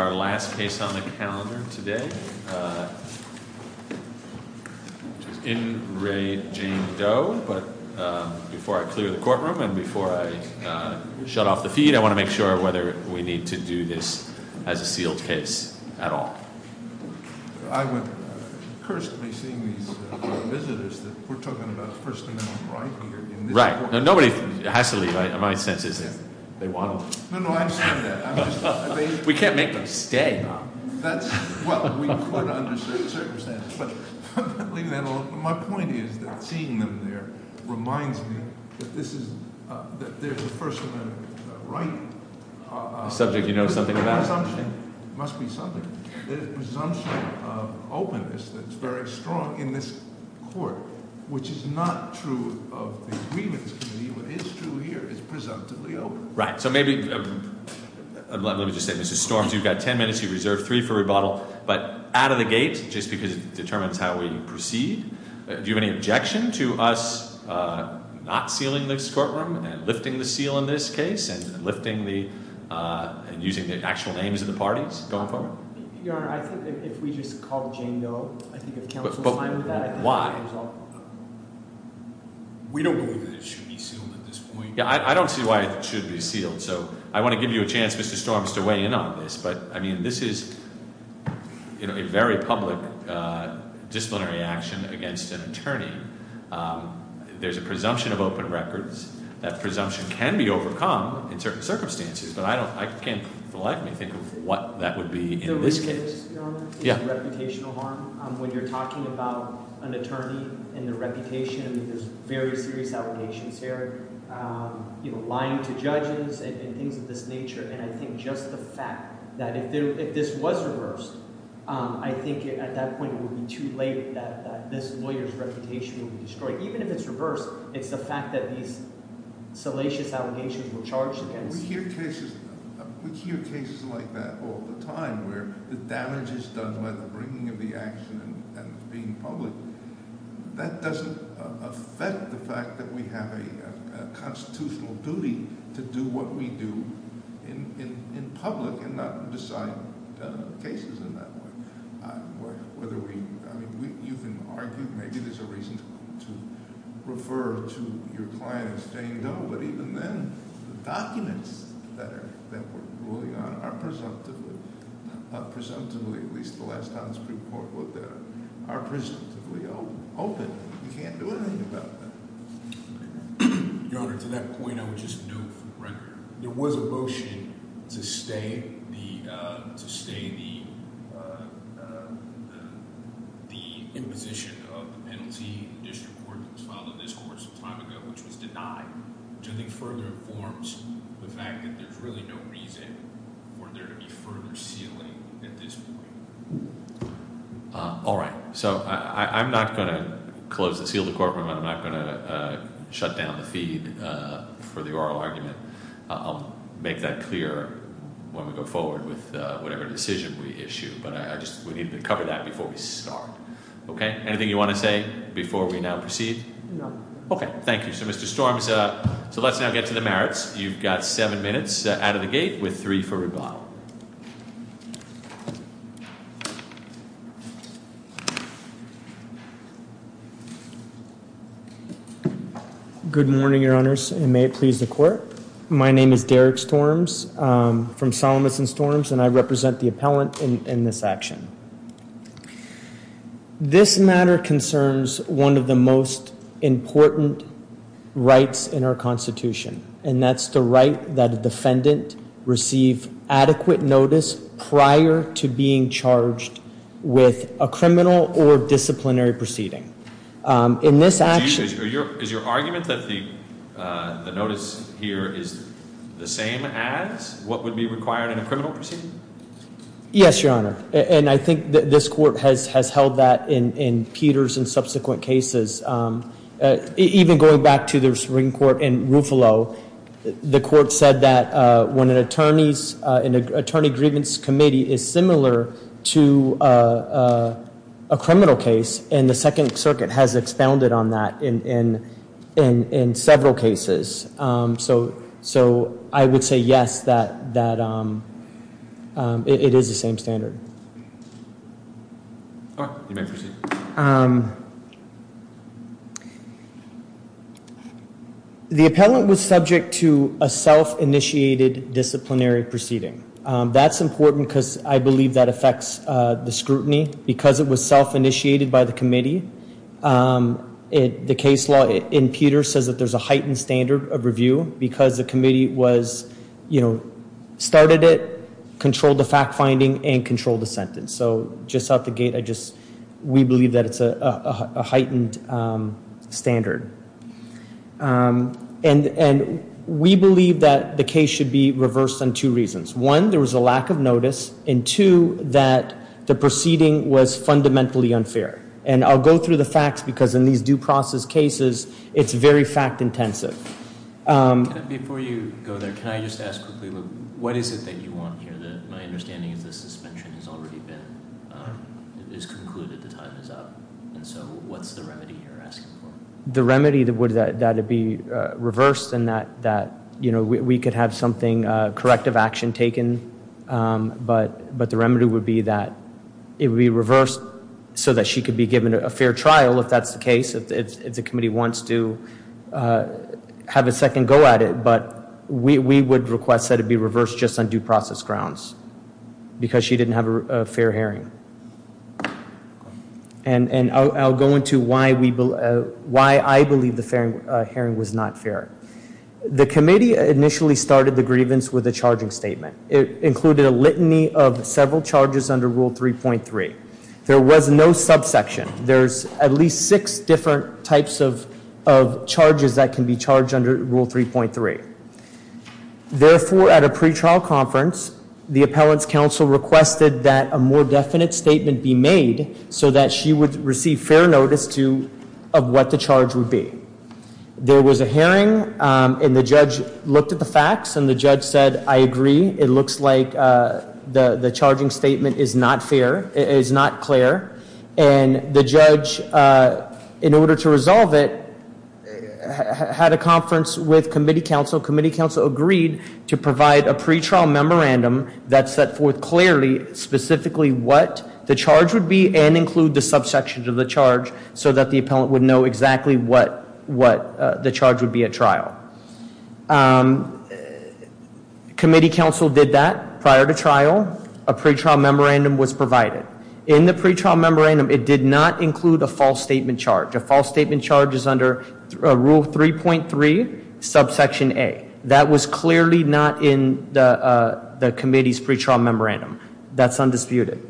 our last case on the calendar today. In re Jane Doe, but before I clear the courtroom and before I shut off the feed, I want to make sure whether we need to do this as a sealed case at all. I would curse to be seeing these visitors that we're talking about the First Amendment right here. Right. Now, nobody has to leave. My sense is that they want to leave. No, no, I understand that. We can't make them stay. Well, we could under certain circumstances, but my point is that seeing them there reminds me that this is the First Amendment right. A subject you know something about. There must be something. There's a presumption of openness that's very strong in this court, which is not true of the Agreements Committee. What is true here is presumptively open. Right. So maybe let me just say, Mr. Storms, you've got 10 minutes. You reserve three for rebuttal, but out of the gate, just because it determines how we proceed. Do you have any objection to us not sealing this courtroom and lifting the seal in this case and lifting the and using the actual names of the parties going forward? Your Honor, I think if we just called Jane Doe, I think if counsel signed that. But why? We don't believe that it should be sealed at this point. Yeah, I don't see why it should be sealed. So I want to give you a chance, Mr. Storms, to weigh in on this. But I mean, this is a very public disciplinary action against an attorney. There's a presumption of open records. That presumption can be overcome in certain circumstances. But I can't for the life of me think of what that would be in this case. The loose case, Your Honor, is a reputational harm. When you're talking about an attorney and their reputation, there's very serious allegations here, lying to judges and things of this nature. And I think just the fact that if this was reversed, I think at that point it would be too late that this lawyer's reputation would be destroyed. Even if it's reversed, it's the fact that these salacious allegations were charged against We hear cases like that all the time where the damage is done by the bringing of the action and being public. That doesn't affect the fact that we have a constitutional duty to do what we do in public and not decide cases in that way. Whether we – I mean, you can argue, maybe there's a reason to refer to your client as Jane Doe, but even then, the documents that we're ruling on are presumptively, at least the last time this report was there, are presumptively open. You can't do anything about that. Your Honor, to that point, I would just note for the record, there was a motion to stay the imposition of the penalty in the district court that was filed on this court some time ago, which was denied, which I think further informs the fact that there's really no reason for there to be further sealing at this point. All right. So, I'm not going to close the sealed court room. I'm not going to shut down the feed for the oral argument. I'll make that clear when we go forward with whatever decision we issue, but I just – we need to cover that before we start. Okay? Anything you want to say before we now proceed? No. Okay. Thank you. So, Mr. Storms, so let's now get to the merits. You've got seven minutes out of the gate with three for rebuttal. Good morning, Your Honors, and may it please the Court. My name is Derek Storms from Solomons & Storms, and I represent the appellant in this action. This matter concerns one of the most important rights in our Constitution, and that's the right that a defendant receive adequate notice prior to being charged with a criminal or disciplinary proceeding. In this action – Is your argument that the notice here is the same as what would be required in a criminal proceeding? Yes, Your Honor. And I think this Court has held that in Peters and subsequent cases. Even going back to the Supreme Court in Ruffalo, the Court said that when an attorney's – an attorney grievance committee is similar to a criminal case, and the Second Circuit has expounded on that in several cases. So I would say yes, that it is the same standard. All right, you may proceed. The appellant was subject to a self-initiated disciplinary proceeding. That's important because I believe that affects the scrutiny. Because it was self-initiated by the committee, the case law in Peters says that there's a heightened standard of review because the committee was – you know, started it, controlled the fact-finding, and controlled the sentence. So just out the gate, I just – we believe that it's a heightened standard. And we believe that the case should be reversed on two reasons. One, there was a lack of notice, and two, that the proceeding was fundamentally unfair. And I'll go through the facts because in these due process cases, it's very fact-intensive. Before you go there, can I just ask quickly, what is it that you want here? My understanding is the suspension has already been – is concluded, the time is up. And so what's the remedy you're asking for? The remedy would be that it be reversed and that, you know, we could have something, corrective action taken, but the remedy would be that it be reversed so that she could be given a fair trial, if that's the case, if the committee wants to have a second go at it. But we would request that it be reversed just on due process grounds because she didn't have a fair hearing. And I'll go into why we – why I believe the hearing was not fair. The committee initially started the grievance with a charging statement. It included a litany of several charges under Rule 3.3. There was no subsection. There's at least six different types of charges that can be charged under Rule 3.3. Therefore, at a pretrial conference, the appellant's counsel requested that a more definite statement be made so that she would receive fair notice to – of what the charge would be. There was a hearing, and the judge looked at the facts, and the judge said, I agree, it looks like the charging statement is not fair, it is not clear. And the judge, in order to resolve it, had a conference with committee counsel. Committee counsel agreed to provide a pretrial memorandum that set forth clearly specifically what the charge would be and include the subsections of the charge so that the appellant would know exactly what the charge would be at trial. Committee counsel did that prior to trial. A pretrial memorandum was provided. In the pretrial memorandum, it did not include a false statement charge. A false statement charge is under Rule 3.3, subsection A. That was clearly not in the committee's pretrial memorandum. That's undisputed.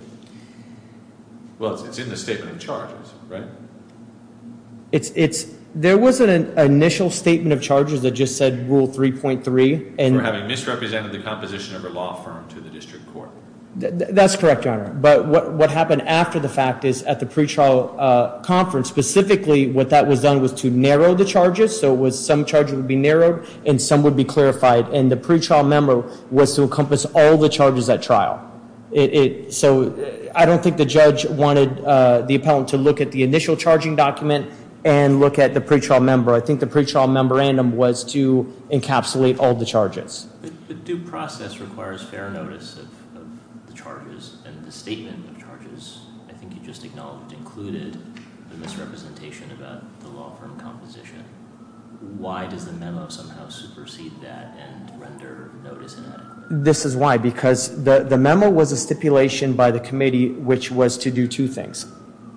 Well, it's in the statement of charges, right? There was an initial statement of charges that just said Rule 3.3. For having misrepresented the composition of a law firm to the district court. That's correct, Your Honor. But what happened after the fact is at the pretrial conference, specifically what that was done was to narrow the charges, so some charges would be narrowed and some would be clarified. And the pretrial memo was to encompass all the charges at trial. So I don't think the judge wanted the appellant to look at the initial charging document and look at the pretrial memo. I think the pretrial memorandum was to encapsulate all the charges. The due process requires fair notice of the charges and the statement of charges. I think you just acknowledged it included a misrepresentation about the law firm composition. Why does the memo somehow supersede that and render notice inadequate? This is why. Because the memo was a stipulation by the committee which was to do two things.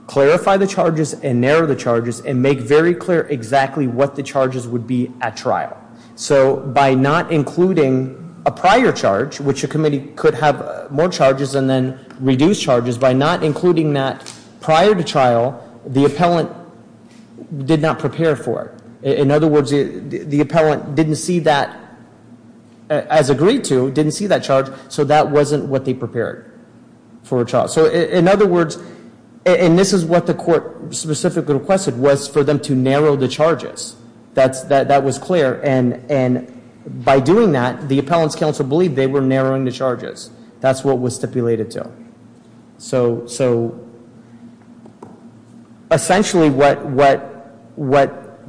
Clarify the charges and narrow the charges and make very clear exactly what the charges would be at trial. So by not including a prior charge, which a committee could have more charges and then reduce charges, by not including that prior to trial, the appellant did not prepare for it. In other words, the appellant didn't see that as agreed to, didn't see that charge, so that wasn't what they prepared for a trial. So in other words, and this is what the court specifically requested, was for them to narrow the charges. That was clear. And by doing that, the appellant's counsel believed they were narrowing the charges. That's what it was stipulated to. So essentially what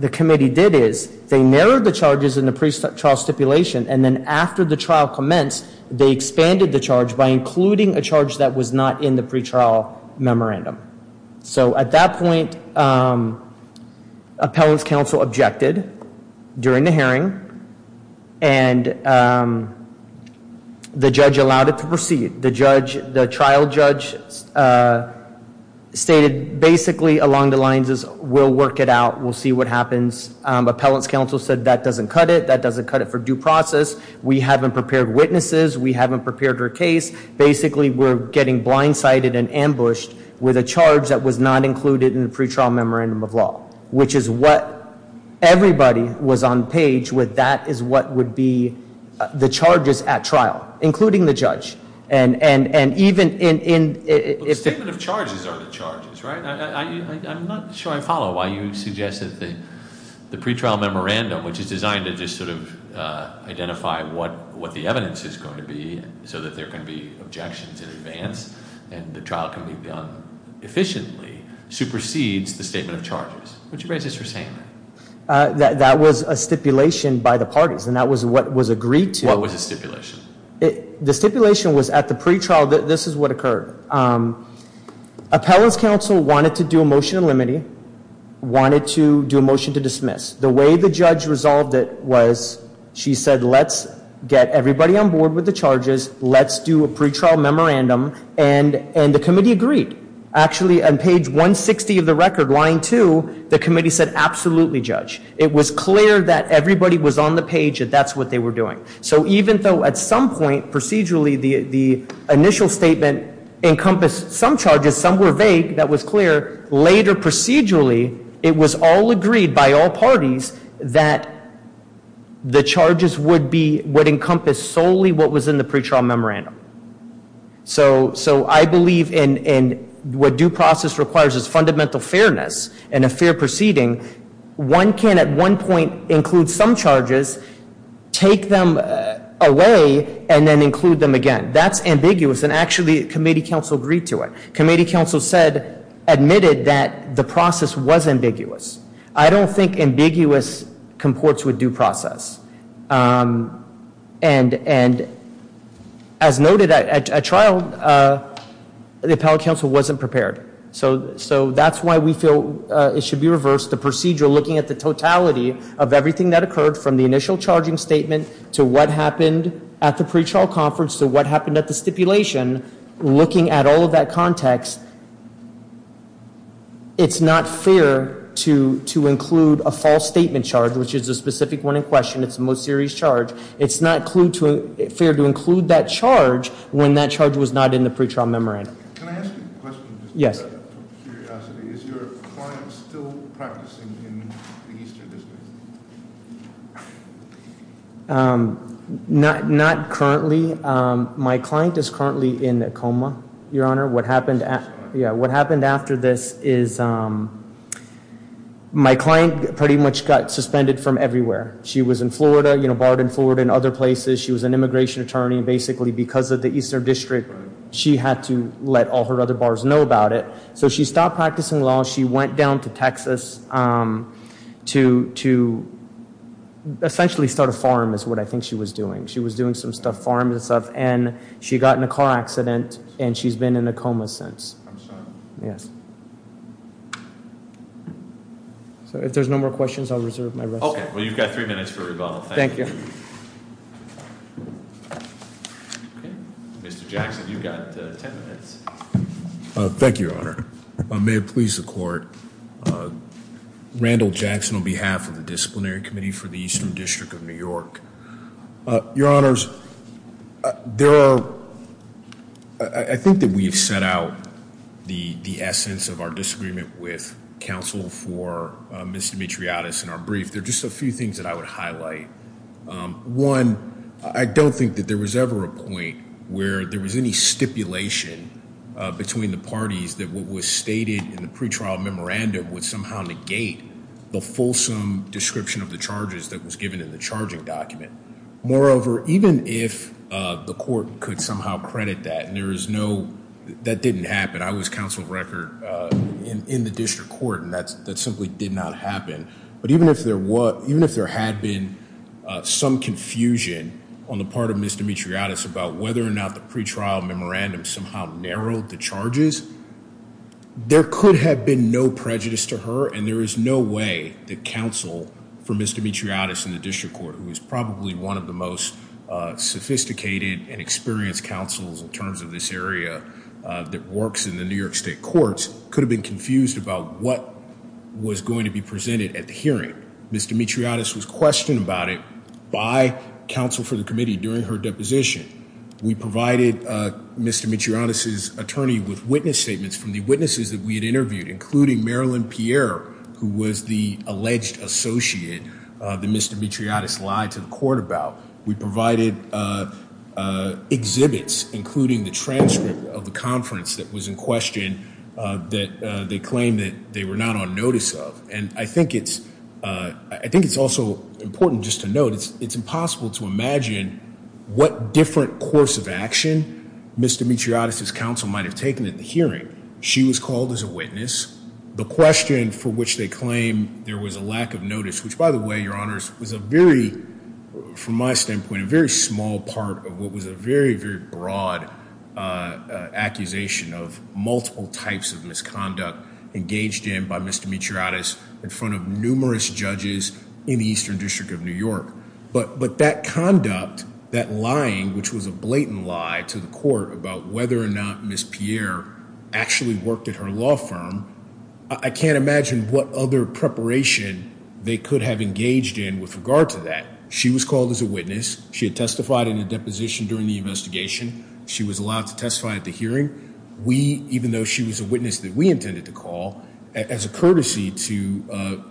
the committee did is they narrowed the charges in the pretrial stipulation and then after the trial commenced, they expanded the charge by including a charge that was not in the pretrial memorandum. So at that point, appellant's counsel objected during the hearing and the judge allowed it to proceed. The trial judge stated basically along the lines of we'll work it out, we'll see what happens. Appellant's counsel said that doesn't cut it. That doesn't cut it for due process. We haven't prepared witnesses. We haven't prepared her case. Basically we're getting blindsided and ambushed with a charge that was not included in the pretrial memorandum of law, which is what everybody was on page with. That is what would be the charges at trial, including the judge. And even in... The statement of charges are the charges, right? I'm not sure I follow why you suggested the pretrial memorandum, which is designed to just sort of identify what the evidence is going to be so that there can be objections in advance and the trial can be done efficiently, supersedes the statement of charges. Would you raise this for Sam? That was a stipulation by the parties, and that was what was agreed to. What was the stipulation? The stipulation was at the pretrial that this is what occurred. Appellant's counsel wanted to do a motion to limiting, wanted to do a motion to dismiss. The way the judge resolved it was she said let's get everybody on board with the charges. Let's do a pretrial memorandum. And the committee agreed. Actually, on page 160 of the record, line 2, the committee said absolutely, judge. It was clear that everybody was on the page and that's what they were doing. So even though at some point procedurally the initial statement encompassed some charges, some were vague, that was clear, later procedurally it was all agreed by all parties that the charges would be... So I believe in what due process requires is fundamental fairness and a fair proceeding. One can at one point include some charges, take them away, and then include them again. That's ambiguous, and actually committee counsel agreed to it. Committee counsel admitted that the process was ambiguous. I don't think ambiguous comports with due process. And as noted, at trial, the appellate counsel wasn't prepared. So that's why we feel it should be reversed. The procedure looking at the totality of everything that occurred from the initial charging statement to what happened at the pretrial conference to what happened at the stipulation, looking at all of that context, it's not fair to include a false statement charge, which is a specific one in question. It's the most serious charge. It's not fair to include that charge when that charge was not in the pretrial memorandum. Can I ask you a question? Yes. Out of curiosity, is your client still practicing in the Eastern District? My client is currently in a coma, Your Honor. What happened after this is my client pretty much got suspended from everywhere. She was in Florida, barred in Florida and other places. She was an immigration attorney. Basically, because of the Eastern District, she had to let all her other bars know about it. So she stopped practicing law. She went down to Texas to essentially start a farm is what I think she was doing. She was doing some stuff, farming stuff. She got in a car accident, and she's been in a coma since. I'm sorry. Yes. If there's no more questions, I'll reserve my rest. Okay. Well, you've got three minutes for rebuttal. Thank you. Mr. Jackson, you've got ten minutes. Thank you, Your Honor. May it please the Court. Randall Jackson on behalf of the Disciplinary Committee for the Eastern District of New York. Your Honors, I think that we have set out the essence of our disagreement with counsel for Ms. Dimitriotis in our brief. There are just a few things that I would highlight. One, I don't think that there was ever a point where there was any stipulation between the parties that what was stated in the pretrial memorandum would somehow negate the fulsome description of the charges that was given in the charging document. Moreover, even if the court could somehow credit that, and that didn't happen. I was counsel of record in the district court, and that simply did not happen. But even if there had been some confusion on the part of Ms. Dimitriotis about whether or not the pretrial memorandum somehow narrowed the charges, there could have been no prejudice to her, and there is no way that counsel for Ms. Dimitriotis in the district court, who is probably one of the most sophisticated and experienced counsels in terms of this area that works in the New York State courts, could have been confused about what was going to be presented at the hearing. Ms. Dimitriotis was questioned about it by counsel for the committee during her deposition. We provided Ms. Dimitriotis' attorney with witness statements from the witnesses that we had interviewed, including Marilyn Pierre, who was the alleged associate that Ms. Dimitriotis lied to the court about. We provided exhibits, including the transcript of the conference that was in question that they claimed that they were not on notice of. And I think it's also important just to note, it's impossible to imagine what different course of action Ms. Dimitriotis' counsel might have taken at the hearing. She was called as a witness. The question for which they claim there was a lack of notice, which, by the way, Your Honors, was a very, from my standpoint, a very small part of what was a very, very broad accusation of multiple types of misconduct engaged in by Ms. Dimitriotis in front of numerous judges in the Eastern District of New York. But that conduct, that lying, which was a blatant lie to the court about whether or not Ms. Pierre actually worked at her law firm, I can't imagine what other preparation they could have engaged in with regard to that. She was called as a witness. She had testified in a deposition during the investigation. She was allowed to testify at the hearing. We, even though she was a witness that we intended to call, as a courtesy to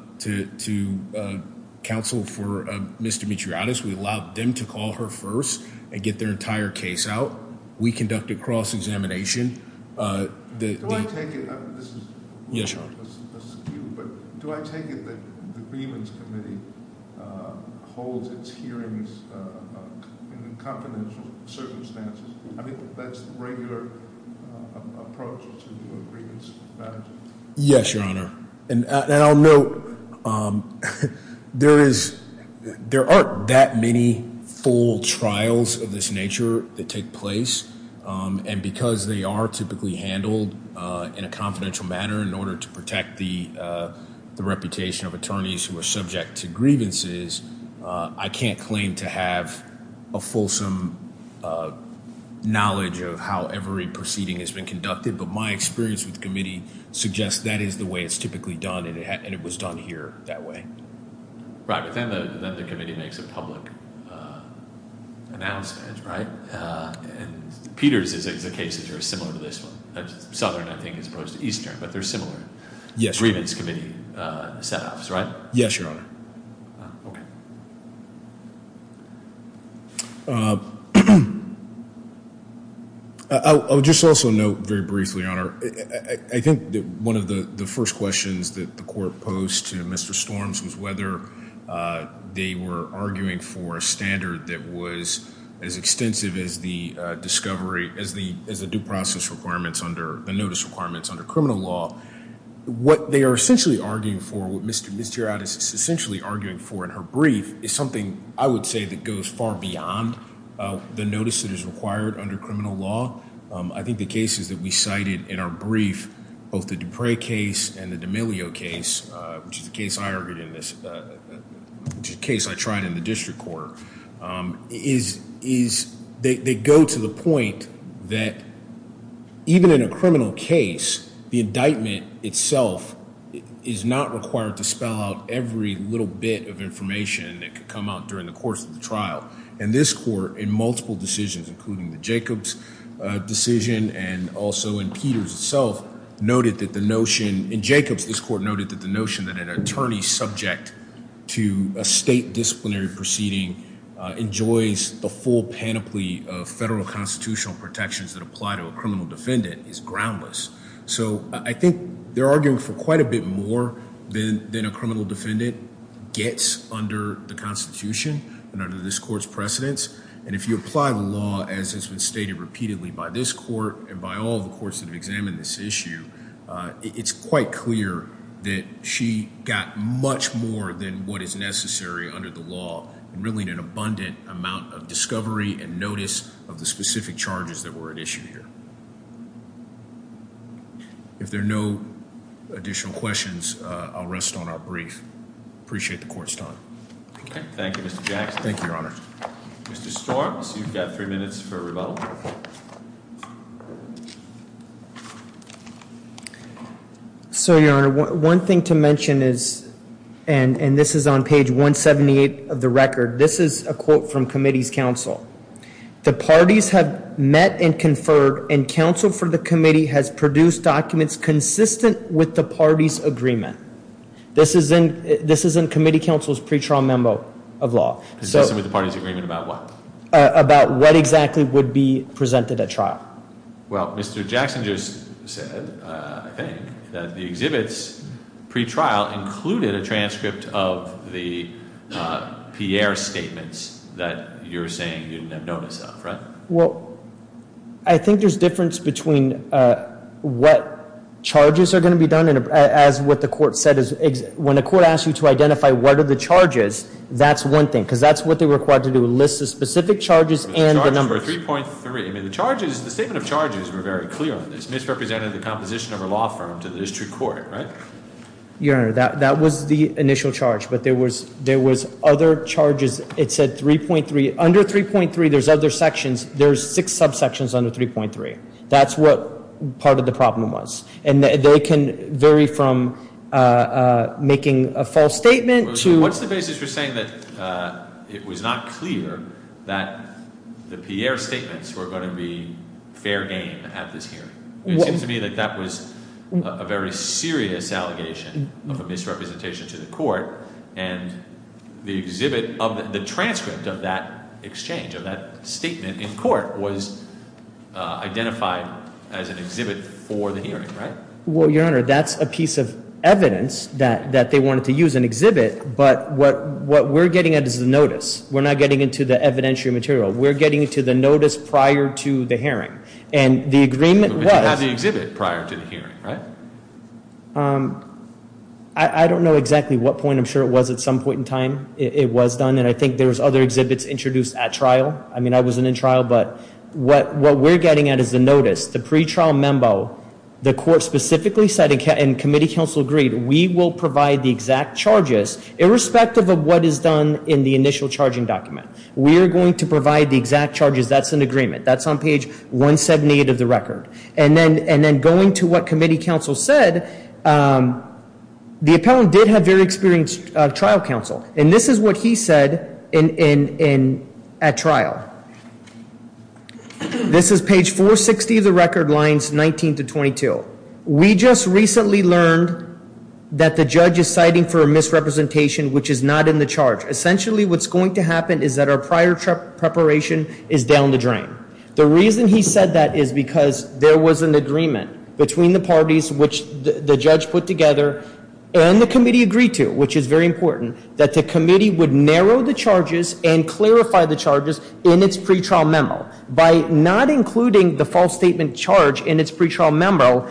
counsel for Ms. Dimitriotis, we allowed them to call her first and get their entire case out. We conducted cross-examination. Do I take it that the Agreements Committee holds its hearings in confidential circumstances? I mean, that's the regular approach to agreements with managers? Yes, Your Honor. And I'll note there is, there aren't that many full trials of this nature that take place. And because they are typically handled in a confidential manner in order to protect the reputation of attorneys who are subject to grievances, I can't claim to have a fulsome knowledge of how every proceeding has been conducted. But my experience with the committee suggests that is the way it's typically done, and it was done here that way. Right, but then the committee makes a public announcement, right? And Peters' cases are similar to this one. Southern, I think, as opposed to Eastern, but they're similar agreements committee set-offs, right? Yes, Your Honor. Okay. I would just also note very briefly, Your Honor, I think that one of the first questions that the court posed to Mr. Storms was whether they were arguing for a standard that was as extensive as the discovery, as the due process requirements under the notice requirements under criminal law. What they are essentially arguing for, what Ms. Gerard is essentially arguing for in her brief, is something I would say that goes far beyond the notice that is required under criminal law. I think the cases that we cited in our brief, both the Dupre case and the D'Amelio case, which is a case I argued in this, which is a case I tried in the district court, is they go to the point that even in a criminal case, the indictment itself is not required to spell out every little bit of information that could come out during the course of the trial. In this court, in multiple decisions, including the Jacobs decision and also in Peters itself, noted that the notion, in Jacobs, this court noted that the notion that an attorney subject to a state disciplinary proceeding enjoys the full panoply of federal constitutional protections that apply to a criminal defendant is groundless. I think they're arguing for quite a bit more than a criminal defendant gets under the Constitution and under this court's precedence. If you apply the law as has been stated repeatedly by this court and by all the courts that have examined this issue, it's quite clear that she got much more than what is necessary under the law, and really an abundant amount of discovery and notice of the specific charges that were issued here. If there are no additional questions, I'll rest on our brief. Appreciate the court's time. Thank you, Mr. Jackson. Thank you, Your Honor. Mr. Starks, you've got three minutes for rebuttal. So, Your Honor, one thing to mention is, and this is on page 178 of the record, this is a quote from committee's counsel. The parties have met and conferred, and counsel for the committee has produced documents consistent with the party's agreement. This is in committee counsel's pre-trial memo of law. Consistent with the party's agreement about what? About what exactly would be presented at trial. Well, Mr. Jackson just said, I think, that the exhibits pre-trial included a transcript of the Pierre statements that you're saying you didn't have notice of, right? Well, I think there's difference between what charges are going to be done, and as what the court said is when a court asks you to identify what are the charges, that's one thing. Because that's what they're required to do, list the specific charges and the numbers. The charges were 3.3. I mean, the charges, the statement of charges were very clear on this. Misrepresented the composition of a law firm to the district court, right? Your Honor, that was the initial charge, but there was other charges. It said 3.3. Under 3.3, there's other sections. There's six subsections under 3.3. That's what part of the problem was. And they can vary from making a false statement to... It was not clear that the Pierre statements were going to be fair game at this hearing. It seems to me that that was a very serious allegation of a misrepresentation to the court. And the exhibit of the transcript of that exchange of that statement in court was identified as an exhibit for the hearing, right? Well, Your Honor, that's a piece of evidence that they wanted to use an exhibit. But what we're getting at is the notice. We're not getting into the evidentiary material. We're getting into the notice prior to the hearing. And the agreement was... But you had the exhibit prior to the hearing, right? I don't know exactly what point. I'm sure it was at some point in time it was done. And I think there was other exhibits introduced at trial. I mean, I wasn't in trial, but what we're getting at is the notice, the pretrial memo. The court specifically said, and committee counsel agreed, we will provide the exact charges irrespective of what is done in the initial charging document. We are going to provide the exact charges. That's an agreement. That's on page 178 of the record. And then going to what committee counsel said, the appellant did have very experienced trial counsel. And this is what he said at trial. This is page 460 of the record, lines 19 to 22. We just recently learned that the judge is citing for a misrepresentation which is not in the charge. Essentially what's going to happen is that our prior preparation is down the drain. The reason he said that is because there was an agreement between the parties which the judge put together and the committee agreed to, which is very important, that the committee would narrow the charges and clarify the charges in its pretrial memo. By not including the false statement charge in its pretrial memo,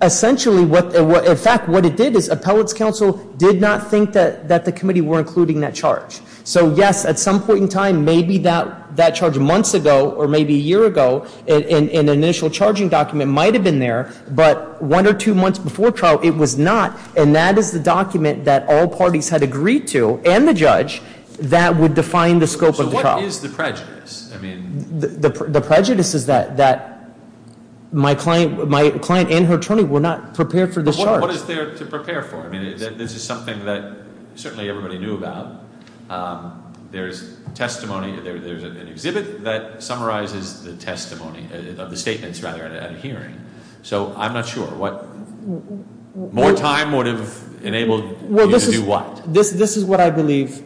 essentially, in fact, what it did is appellate's counsel did not think that the committee were including that charge. So, yes, at some point in time, maybe that charge months ago or maybe a year ago, an initial charging document might have been there, but one or two months before trial, it was not. And that is the document that all parties had agreed to and the judge that would define the scope of the trial. So what is the prejudice? The prejudice is that my client and her attorney were not prepared for this charge. But what is there to prepare for? I mean, this is something that certainly everybody knew about. There's testimony. There's an exhibit that summarizes the testimony of the statements, rather, at a hearing. So I'm not sure what more time would have enabled you to do what? Well, this is what I believe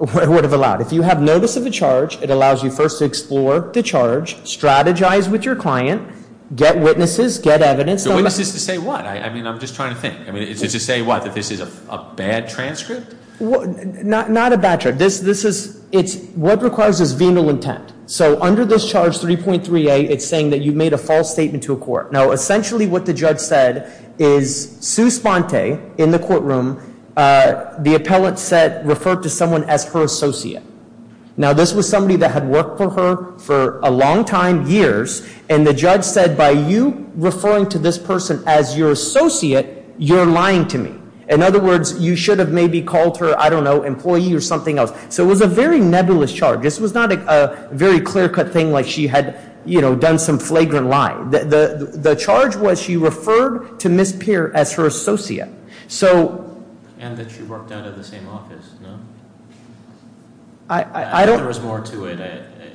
would have allowed. If you have notice of a charge, it allows you first to explore the charge, strategize with your client, get witnesses, get evidence. So what is this to say what? I mean, I'm just trying to think. I mean, is this to say what, that this is a bad transcript? Not a bad transcript. This is what requires is venal intent. So under this charge 3.3a, it's saying that you made a false statement to a court. Now, essentially what the judge said is Sue Sponte, in the courtroom, the appellate referred to someone as her associate. Now, this was somebody that had worked for her for a long time, years, and the judge said by you referring to this person as your associate, you're lying to me. In other words, you should have maybe called her, I don't know, employee or something else. So it was a very nebulous charge. This was not a very clear-cut thing like she had, you know, done some flagrant lying. The charge was she referred to Ms. Peer as her associate. So... And that she worked out of the same office, no? I don't... If there was more to it,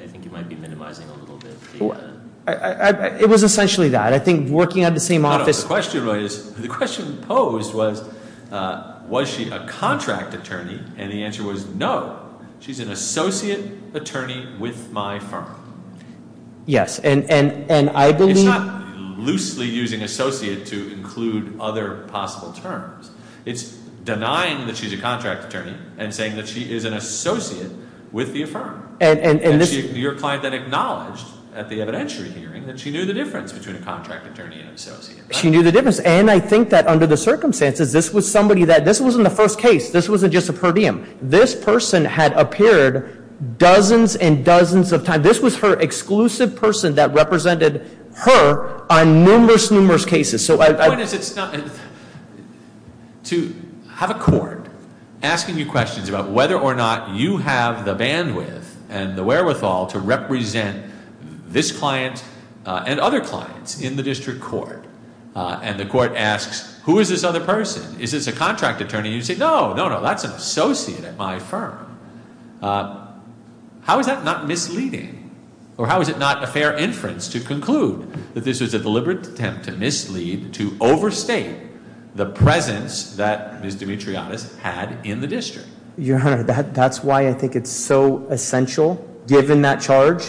I think you might be minimizing a little bit. It was essentially that. I think working out of the same office... The question posed was, was she a contract attorney? And the answer was no. She's an associate attorney with my firm. Yes, and I believe... It's not loosely using associate to include other possible terms. It's denying that she's a contract attorney and saying that she is an associate with the firm. Your client then acknowledged at the evidentiary hearing that she knew the difference between a contract attorney and associate. She knew the difference. And I think that under the circumstances, this was somebody that... This wasn't the first case. This wasn't just a per diem. This person had appeared dozens and dozens of times. This was her exclusive person that represented her on numerous, numerous cases. To have a court asking you questions about whether or not you have the bandwidth and the wherewithal to represent this client and other clients in the district court, and the court asks, who is this other person? Is this a contract attorney? You say, no, no, no. That's an associate at my firm. How is that not misleading? Or how is it not a fair inference to conclude that this was a deliberate attempt to mislead, to overstate the presence that Ms. Dimitriotis had in the district? Your Honor, that's why I think it's so essential, given that charge.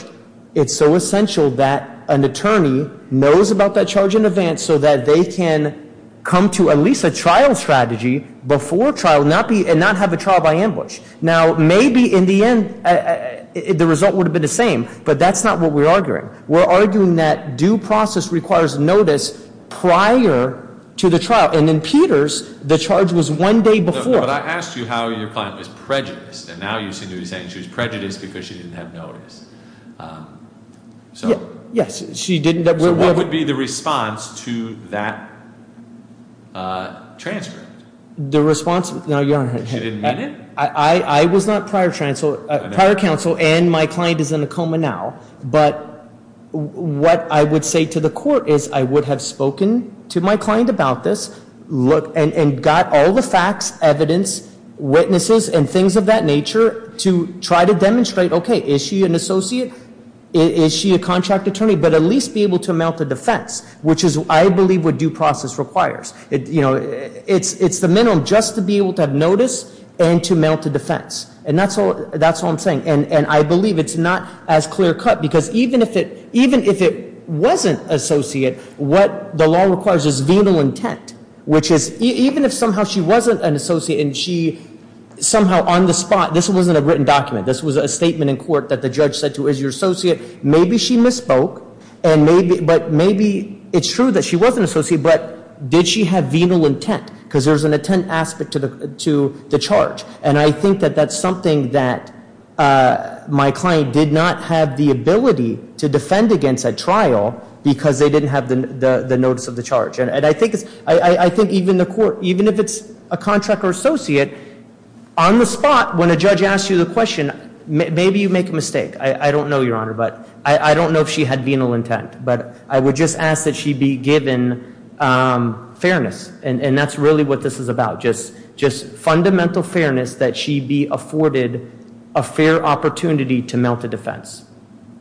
It's so essential that an attorney knows about that charge in advance so that they can come to at least a trial strategy before trial and not have a trial by ambush. Now, maybe in the end, the result would have been the same. But that's not what we're arguing. We're arguing that due process requires notice prior to the trial. And in Peters, the charge was one day before. But I asked you how your client was prejudiced. And now you seem to be saying she was prejudiced because she didn't have notice. Yes, she didn't. So what would be the response to that transcript? The response? No, Your Honor. I was not prior counsel and my client is in a coma now. But what I would say to the court is I would have spoken to my client about this and got all the facts, evidence, witnesses, and things of that nature to try to demonstrate, okay, is she an associate? Is she a contract attorney? But at least be able to amount to defense, which is, I believe, what due process requires. It's the minimum just to be able to have notice and to amount to defense. And that's all I'm saying. And I believe it's not as clear cut because even if it wasn't associate, what the law requires is venal intent, which is even if somehow she wasn't an associate and she somehow on the spot, this wasn't a written document. This was a statement in court that the judge said to her, is your associate? Maybe she misspoke. But maybe it's true that she wasn't an associate, but did she have venal intent? Because there's an intent aspect to the charge. And I think that that's something that my client did not have the ability to defend against at trial because they didn't have the notice of the charge. And I think even the court, even if it's a contract or associate, on the spot when a judge asks you the question, maybe you make a mistake. I don't know, Your Honor, but I don't know if she had venal intent. But I would just ask that she be given fairness. And that's really what this is about. Just fundamental fairness that she be afforded a fair opportunity to amount to defense.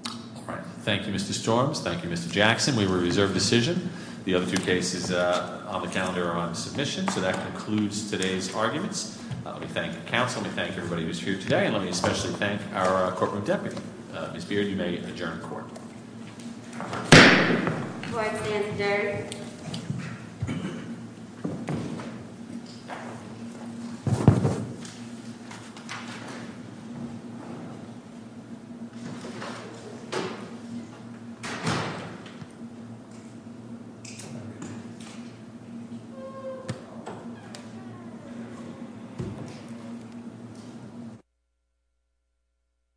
All right. Thank you, Mr. Storms. Thank you, Mr. Jackson. We reserve decision. The other two cases on the calendar are on submission. So that concludes today's arguments. We thank the council. We thank everybody who was here today. And let me especially thank our corporate deputy. Ms. Beard, you may adjourn court. Do I stand adjourned? Thank you.